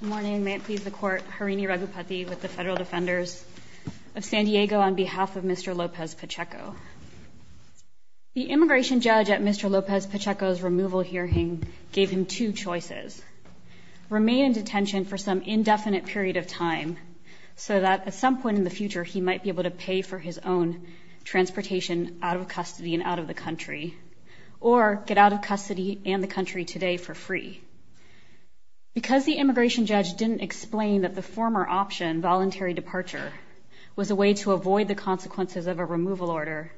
Good morning. May it please the court. Harini Raghupati with the Federal Defenders of San Diego on behalf of Mr. Lopez-Pacheco. The immigration judge at Mr. Lopez-Pacheco's removal hearing gave him two choices. Remain in detention for some indefinite period of time so that at some point in the future he might be able to pay for his own transportation out of custody and out of the country or get out of custody and the country today for free. Because the immigration judge didn't explain that the former option, voluntary departure, was a way to avoid the consequences of a removal order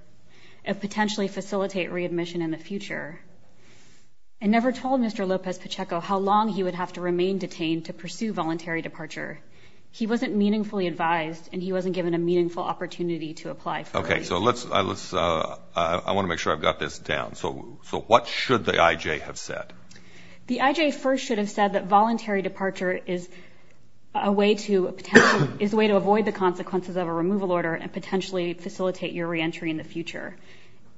and potentially facilitate readmission in the future, I never told Mr. Lopez-Pacheco how long he would have to remain detained to pursue voluntary departure. He wasn't meaningfully advised and he wasn't given a meaningful opportunity to apply. Okay, so let's I want to make sure I've got this down. So what should the IJ have said? The IJ first should have said that voluntary departure is a way to avoid the consequences of a removal order and potentially facilitate your reentry in the future.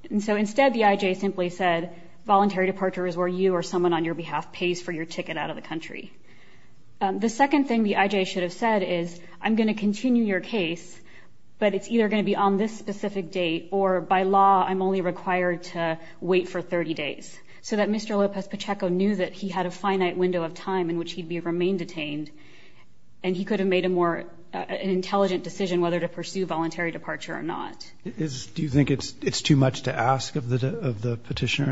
And so instead the IJ simply said voluntary departure is where you or someone on your behalf pays for your ticket out of the country. The second thing the IJ should have said is I'm going to continue your case but it's either going to be on this specific date or by law I'm only required to wait for 30 days. So that Mr. Lopez-Pacheco knew that he had a finite window of time in which he'd be remain detained and he could have made a more an intelligent decision whether to pursue voluntary departure or not. Do you think it's it's too much to ask of the petitioner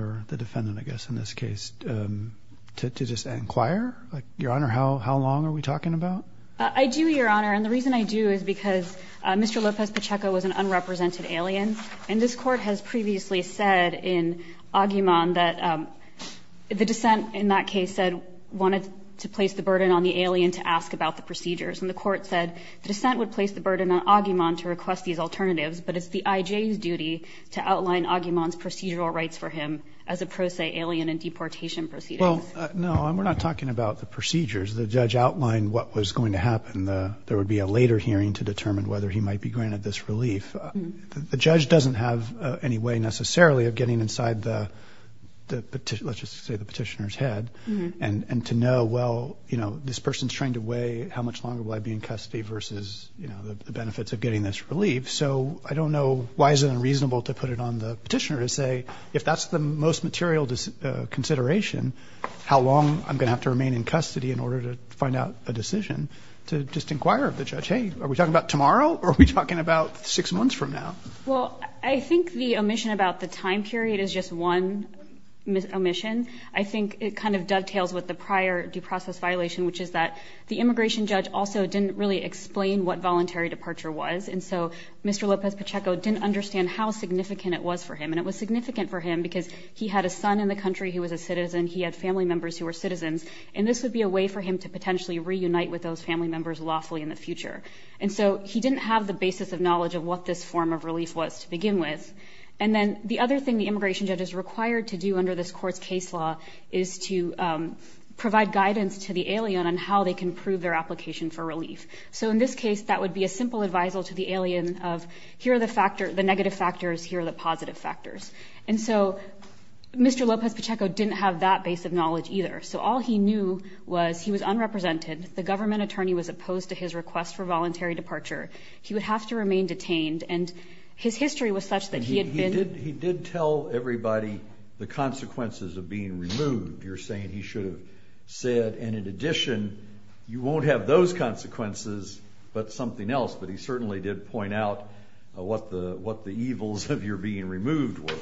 or the defendant I guess in this case to just inquire? Your Honor, how long are we talking about? I do, Your Honor. Mr. Lopez-Pacheco was an unrepresented alien and this court has previously said in Aguiman that the dissent in that case said wanted to place the burden on the alien to ask about the procedures. And the court said the dissent would place the burden on Aguiman to request these alternatives but it's the IJ's duty to outline Aguiman's procedural rights for him as a pro se alien and deportation proceedings. Well no, we're not talking about the procedures. The judge outlined what was going to happen. There would be a later hearing to determine whether he might be granted this relief. The judge doesn't have any way necessarily of getting inside the petitioner's head and to know well you know this person's trying to weigh how much longer will I be in custody versus you know the benefits of getting this relief. So I don't know why is it unreasonable to put it on the petitioner to say if that's the most material consideration how long I'm gonna have to remain in custody in order to find out a Are we talking about six months from now? Well I think the omission about the time period is just one omission. I think it kind of dovetails with the prior due process violation which is that the immigration judge also didn't really explain what voluntary departure was. And so Mr. Lopez Pacheco didn't understand how significant it was for him. And it was significant for him because he had a son in the country who was a citizen. He had family members who were citizens. And this would be a way for him to potentially reunite with those family members lawfully in the future. And so he didn't have the basis of knowledge of what this form of relief was to begin with. And then the other thing the immigration judge is required to do under this court's case law is to provide guidance to the alien on how they can prove their application for relief. So in this case that would be a simple advisal to the alien of here are the negative factors, here are the positive factors. And so Mr. Lopez Pacheco didn't have that base of knowledge either. So all he knew was he was unrepresented. The government attorney was opposed to his request for voluntary departure. He would have to remain detained. And his history was such that he had been He did tell everybody the consequences of being removed. You're saying he should have said and in addition you won't have those consequences but something else. But he certainly did point out what the evils of your being removed were.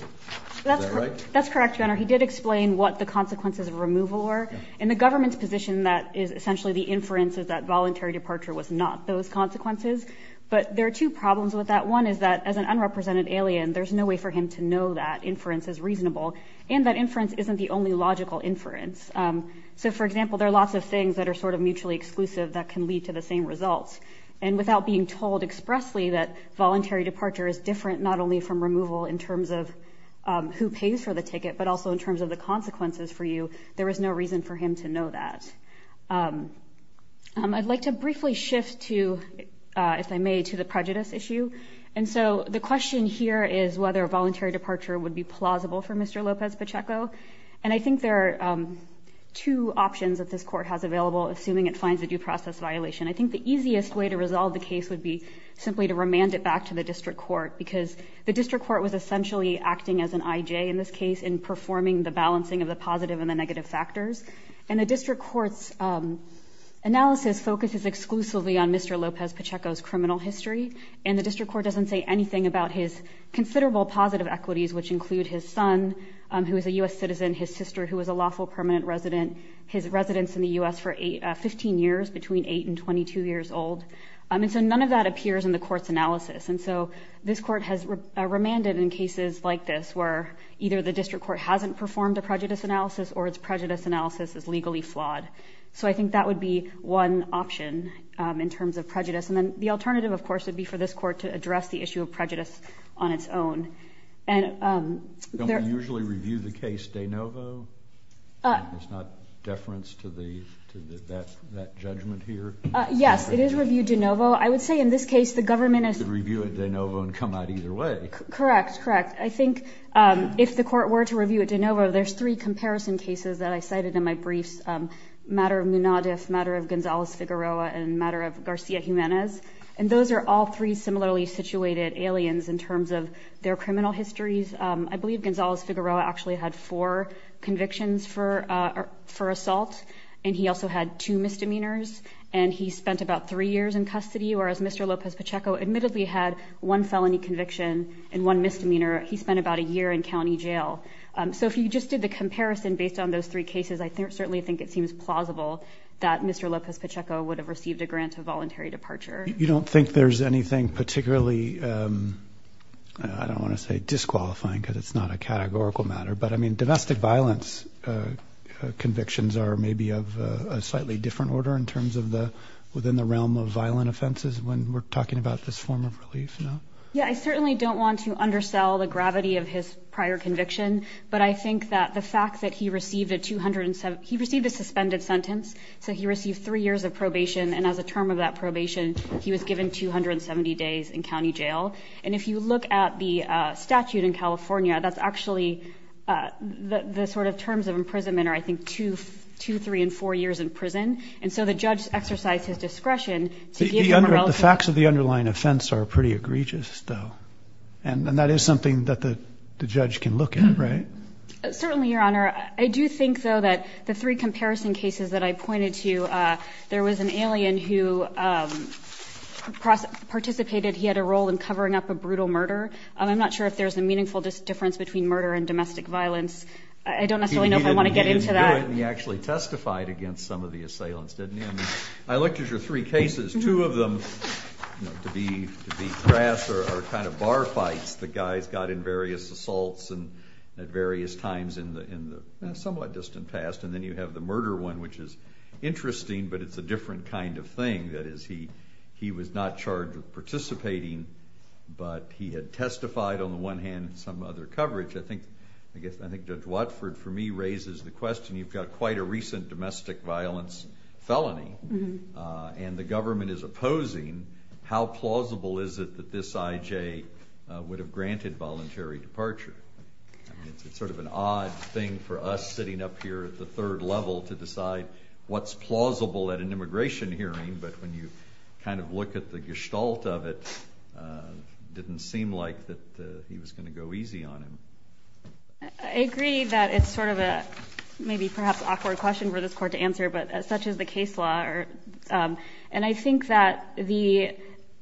Is that right? That's correct, Your Honor. He did explain what the consequences of removal were. In the government's position that is essentially the inferences that voluntary departure was not those consequences. But there are two problems with that. One is that as an unrepresented alien there's no way for him to know that inference is reasonable. And that inference isn't the only logical inference. So for example there are lots of things that are sort of mutually exclusive that can lead to the same results. And without being told expressly that voluntary departure is different not only from removal in terms of who pays for the ticket but also in terms of the reason for him to know that. I'd like to briefly shift to, if I may, to the prejudice issue. And so the question here is whether a voluntary departure would be plausible for Mr. Lopez Pacheco. And I think there are two options that this court has available assuming it finds a due process violation. I think the easiest way to resolve the case would be simply to remand it back to the district court because the district court was essentially acting as an IJ in this case in performing the balancing of the positive and the negative factors. And the district court's analysis focuses exclusively on Mr. Lopez Pacheco's criminal history. And the district court doesn't say anything about his considerable positive equities which include his son who is a U.S. citizen, his sister who was a lawful permanent resident, his residence in the U.S. for 15 years between 8 and 22 years old. And so none of that appears in the court's analysis. And so this court has remanded in cases like this where either the district court hasn't performed a prejudice analysis or its prejudice analysis is legally flawed. So I think that would be one option in terms of prejudice. And then the alternative, of course, would be for this court to address the issue of prejudice on its own. And there usually review the case de novo. It's not deference to the that judgment here. Yes, it is reviewed de novo. I would say in this case the government is reviewing de novo and come out either way. Correct. Correct. I think if the court were to review it de novo, there's three comparison cases that I cited in my briefs. Matter of Munadif, matter of Gonzalez Figueroa and matter of Garcia Jimenez. And those are all three similarly situated aliens in terms of their criminal histories. I believe Gonzalez Figueroa actually had four convictions for for assault. And he also had two misdemeanors. And he spent about three years in custody, whereas Mr Lopez Pacheco admittedly had one felony conviction and one misdemeanor. He spent about a year in county jail. So if you just did the comparison based on those three cases, I certainly think it seems plausible that Mr Lopez Pacheco would have received a grant of voluntary departure. You don't think there's anything particularly, um, I don't want to say disqualifying because it's not a categorical matter, but I mean, domestic violence convictions are maybe of a slightly different order in terms of the within the realm of we're talking about this form of relief. No. Yeah, I certainly don't want to undersell the gravity of his prior conviction. But I think that the fact that he received a 207 he received a suspended sentence. So he received three years of probation. And as a term of that probation, he was given 270 days in county jail. And if you look at the statute in California, that's actually the sort of terms of imprisonment, or I think 223 and four years in prison. And so the judge exercised his discretion. The facts of the underlying offense are pretty egregious, though. And that is something that the judge can look at, right? Certainly, Your Honor. I do think, though, that the three comparison cases that I pointed to, there was an alien who, um, cross participated. He had a role in covering up a brutal murder. I'm not sure if there's a meaningful difference between murder and domestic violence. I don't necessarily know if I want to get into that. He actually testified against some of the assailants, didn't he? I looked at your three cases. Two of them, you know, to be crass or kind of bar fights. The guys got in various assaults and at various times in the somewhat distant past. And then you have the murder one, which is interesting, but it's a different kind of thing. That is, he was not charged with participating, but he had testified on the one hand in some other coverage. I think Judge Watford, for me, raises the question. You've got quite a recent domestic violence felony, and the government is opposing. How plausible is it that this IJ would have granted voluntary departure? It's sort of an odd thing for us sitting up here at the third level to decide what's plausible at an immigration hearing, but when you kind of look at the gestalt of it, didn't seem like that he was going to go easy on him. I agree that it's sort of a maybe perhaps awkward question for this court to answer, but such is the case law. And I think that the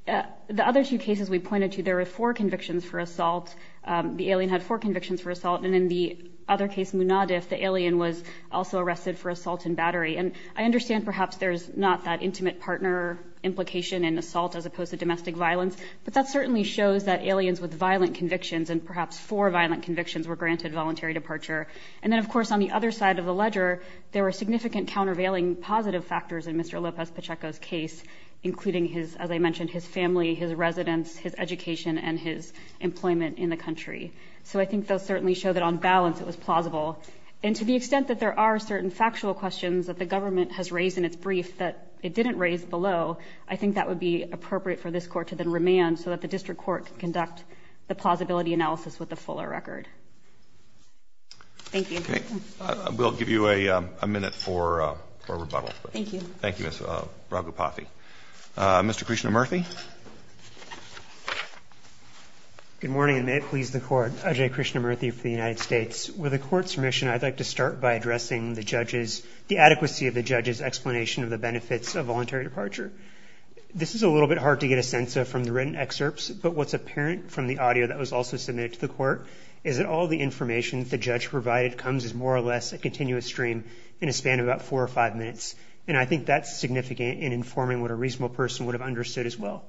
other two cases we pointed to, there were four convictions for assault. The alien had four convictions for assault, and in the other case, Munadif, the alien was also arrested for assault and battery. And I understand perhaps there's not that intimate partner implication in assault as opposed to domestic violence, but that certainly shows that aliens with violent convictions, and perhaps four violent convictions, were granted voluntary departure. And then, of course, on the other side of the ledger, there were significant countervailing positive factors in Mr. Lopez-Pacheco's case, including his, as I mentioned, his family, his residence, his education, and his employment in the country. So I think those certainly show that on balance, it was plausible. And to the extent that there are certain factual questions that the government has raised in its brief that it didn't raise below, I think that would be appropriate for this court to then remand so that the district court can conduct the plausibility analysis with the fuller thank you. I will give you a minute for a rebuttal. Thank you. Thank you, Miss Raghupathy. Mr. Krishnamoorthy. Good morning, and may it please the court. Ajay Krishnamoorthy for the United States. With the court's permission, I'd like to start by addressing the judge's, the adequacy of the judge's explanation of the benefits of voluntary departure. This is a little bit hard to get a sense of from the written excerpts, but what's apparent from the audio that was also submitted to the court is the information that the judge provided comes as more or less a continuous stream in a span of about four or five minutes. And I think that's significant in informing what a reasonable person would have understood as well.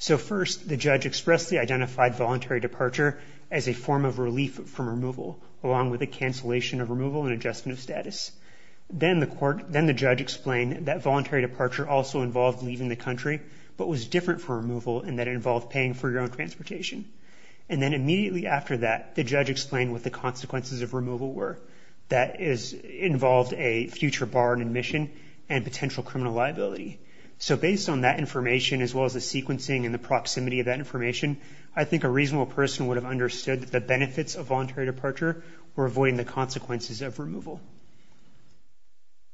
So first, the judge expressly identified voluntary departure as a form of relief from removal, along with a cancellation of removal and adjustment of status. Then the court, then the judge explained that voluntary departure also involved leaving the country, but was different for removal and that involved paying for your own transportation. And then immediately after that, the judge explained what the consequences of removal were. That is, it involved a future bar and admission and potential criminal liability. So based on that information, as well as the sequencing and the proximity of that information, I think a reasonable person would have understood that the benefits of voluntary departure were avoiding the consequences of removal.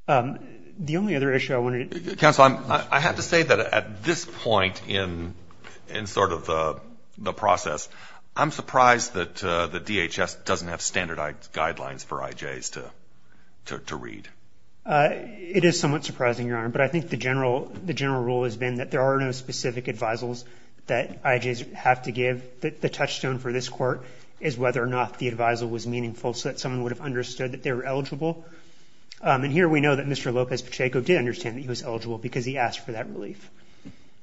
The only other issue I wanted to... Counsel, I have to say that at this point in sort of the process, I'm surprised that the DHS doesn't have standardized guidelines for IJs to read. It is somewhat surprising, Your Honor, but I think the general rule has been that there are no specific advisals that IJs have to give. The touchstone for this court is whether or not the advisal was meaningful so that someone would have understood that they were eligible. And here we know that Mr. Lopez-Pacheco did understand that he was eligible because he asked for that relief.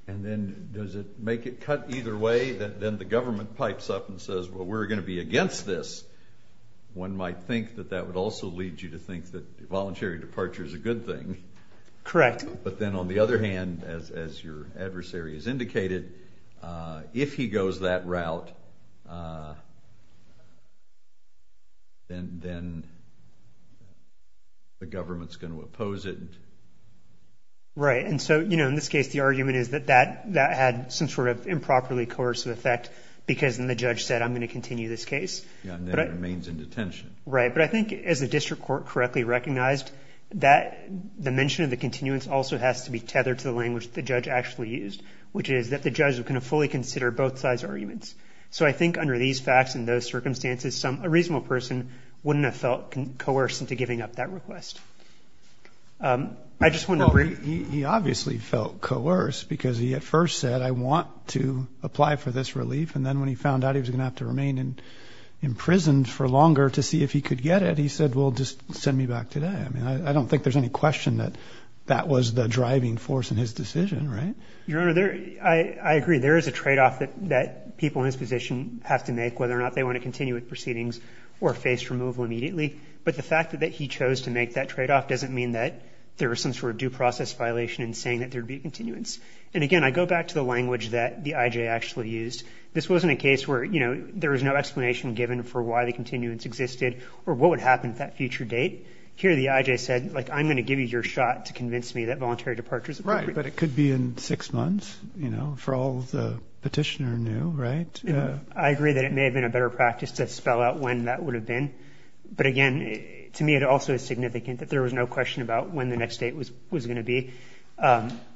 And then does it make it cut either way, that then the government pipes up and says, well, we're going to be against this? One might think that that would also lead you to think that voluntary departure is a good thing. Correct. But then on the other hand, as your adversary has indicated, if he goes that route, then the government's going to oppose it. Right. And so, you know, in this case, the argument is that that had some sort of improperly coercive effect because then the judge said, I'm going to continue this case. Yeah, and then it remains in detention. Right. But I think as the district court correctly recognized, that the mention of the continuance also has to be tethered to the language the judge actually used, which is that the judge is going to fully consider both sides' arguments. So I think under these facts and those circumstances, a reasonable person wouldn't have felt coerced into giving up that request. I just want to bring... He obviously felt coerced because he at the time was not to apply for this relief. And then when he found out he was going to have to remain in prison for longer to see if he could get it, he said, well, just send me back today. I mean, I don't think there's any question that that was the driving force in his decision. Right. Your Honor, I agree. There is a tradeoff that people in his position have to make, whether or not they want to continue with proceedings or face removal immediately. But the fact that he chose to make that tradeoff doesn't mean that there was some sort of due process violation in saying that there'd be continuance. And again, I go back to the example that the IJ actually used. This wasn't a case where, you know, there was no explanation given for why the continuance existed or what would happen at that future date. Here the IJ said, like, I'm going to give you your shot to convince me that voluntary departure is appropriate. Right. But it could be in six months, you know, for all the petitioner knew, right? I agree that it may have been a better practice to spell out when that would have been. But again, to me, it also is significant that there was no question about when the next date was going to be.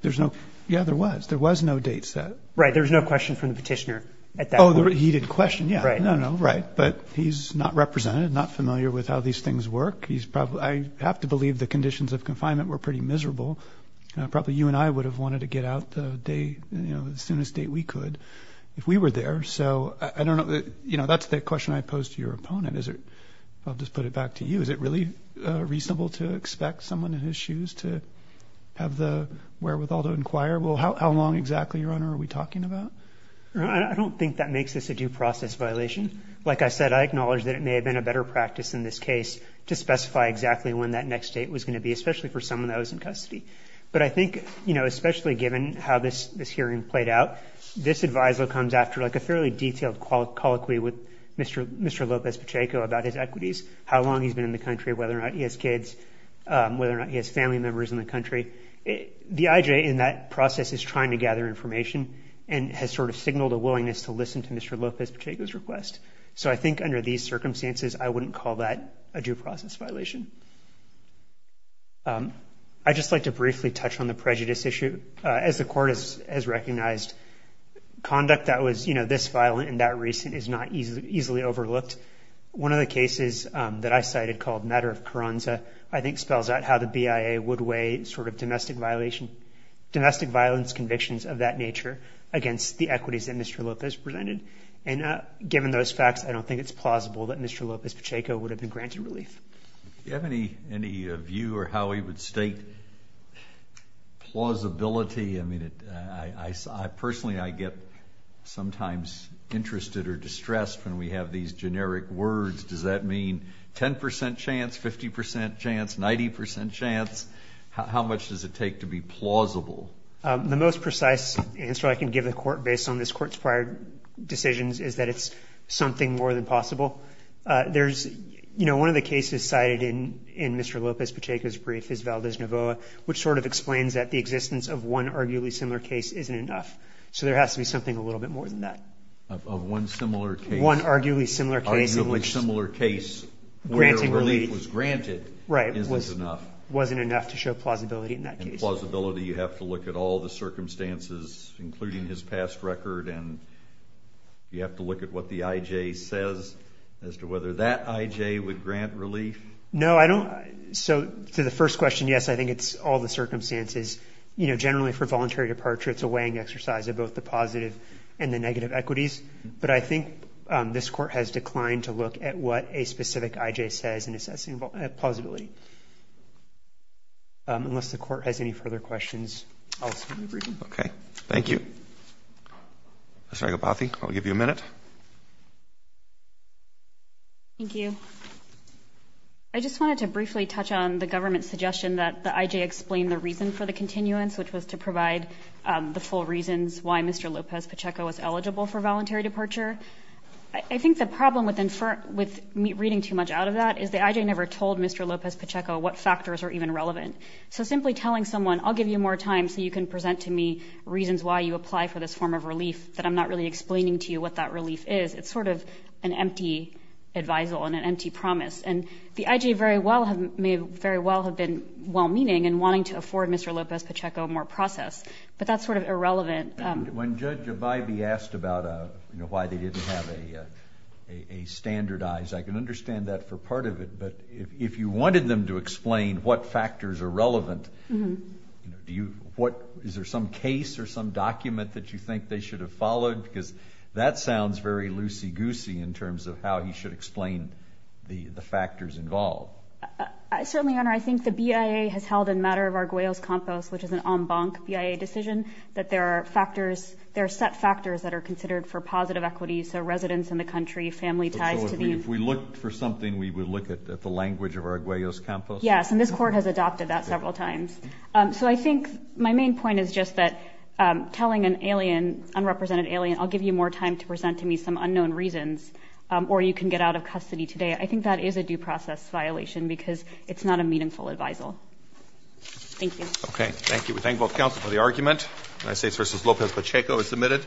There's no. Yeah, there was. There was no date set. Right. There's no question from the petitioner. Oh, he did question. Yeah. Right. No, no. Right. But he's not represented, not familiar with how these things work. He's probably I have to believe the conditions of confinement were pretty miserable. Probably you and I would have wanted to get out the day, you know, as soon as date we could if we were there. So I don't know. You know, that's the question I posed to your opponent. Is it? I'll just put it back to you. Is it really reasonable to expect someone in his shoes to have the wherewithal to inquire? Well, how long exactly, Your Honor, are we talking about? I don't think that makes this a due process violation. Like I said, I acknowledge that it may have been a better practice in this case to specify exactly when that next date was going to be, especially for someone that was in custody. But I think, you know, especially given how this this hearing played out, this adviser comes after like a fairly detailed colloquy with Mr Mr Lopez Pacheco about his equities, how long he's been in the country, whether or not he has kids, whether or not he has family members in the country. The I. J. In that process is trying to gather information and has sort of signaled a willingness to listen to Mr Lopez Pacheco's request. So I think under these circumstances, I wouldn't call that a due process violation. Um, I just like to briefly touch on the prejudice issue as the court is has recognized conduct that was, you know, this violent and that recent is not easily overlooked. One of the cases that I cited called matter of Karanza, I think spells out how the B. I. A. Would weigh sort of domestic violation, domestic violence convictions of that nature against the equities that Mr Lopez presented. And given those facts, I don't think it's plausible that Mr Lopez Pacheco would have been granted relief. You have any any view or how he would state plausibility? I mean, I personally I get sometimes interested or distressed when we have these generic words. Does that mean 10% chance, 50% chance, 90% chance? How much does it take to be plausible? The most precise answer I can give the court based on this court's prior decisions is that it's something more than possible. There's, you know, one of the cases cited in in Mr. Novoa, which sort of explains that the existence of one arguably similar case isn't enough. So there has to be something a little bit more than that of one similar, arguably similar case in which similar case where relief was granted, right? It wasn't enough to show plausibility. In that case, plausibility, you have to look at all the circumstances, including his past record, and you have to look at what the I. J. Says as to whether that I. J. would grant relief. No, I don't. So to the first question, yes, I think it's all the circumstances, you know, generally for voluntary departure. It's a weighing exercise of both the positive and the negative equities. But I think this court has declined to look at what a specific I. J. Says in assessing plausibility. Unless the court has any further questions. Okay, thank you. Sorry about the I'll give you a minute. Thank you. I just wanted to briefly touch on the government suggestion that the I. J. explained the reason for the continuance, which was to provide the full reasons why Mr Lopez Pacheco was eligible for voluntary departure. I think the problem with infer with reading too much out of that is the I. J. Never told Mr Lopez Pacheco what factors are even relevant. So simply telling someone I'll give you more time so you can present to me reasons why you apply for this form of relief that I'm not really explaining to you what that relief is. It's sort of an empty advisal on an empty promise, and the I. J. Very well have made very well have been well meaning and wanting to afford Mr Lopez Pacheco more process. But that's sort of irrelevant. When judge by be asked about why they didn't have a a standardized, I can understand that for part of it. But if you wanted them to explain what factors are relevant, do you? What is there some case or some document that you think they should have followed? Because that terms of how he should explain the factors involved. I certainly honor. I think the B. I. A. Has held in matter of Arguello's compost, which is an on bunk B. I. A. Decision that there are factors. There are set factors that are considered for positive equity. So residents in the country family ties. If we look for something, we would look at the language of Arguello's campus. Yes, and this court has adopted that several times. Eso I think my main point is just that telling an alien, unrepresented alien, I'll give you more time to or you can get out of custody today. I think that is a due process violation because it's not a meaningful advisal. Thank you. Okay, thank you. We thank both counsel for the argument. United States versus Lopez Pacheco is submitted.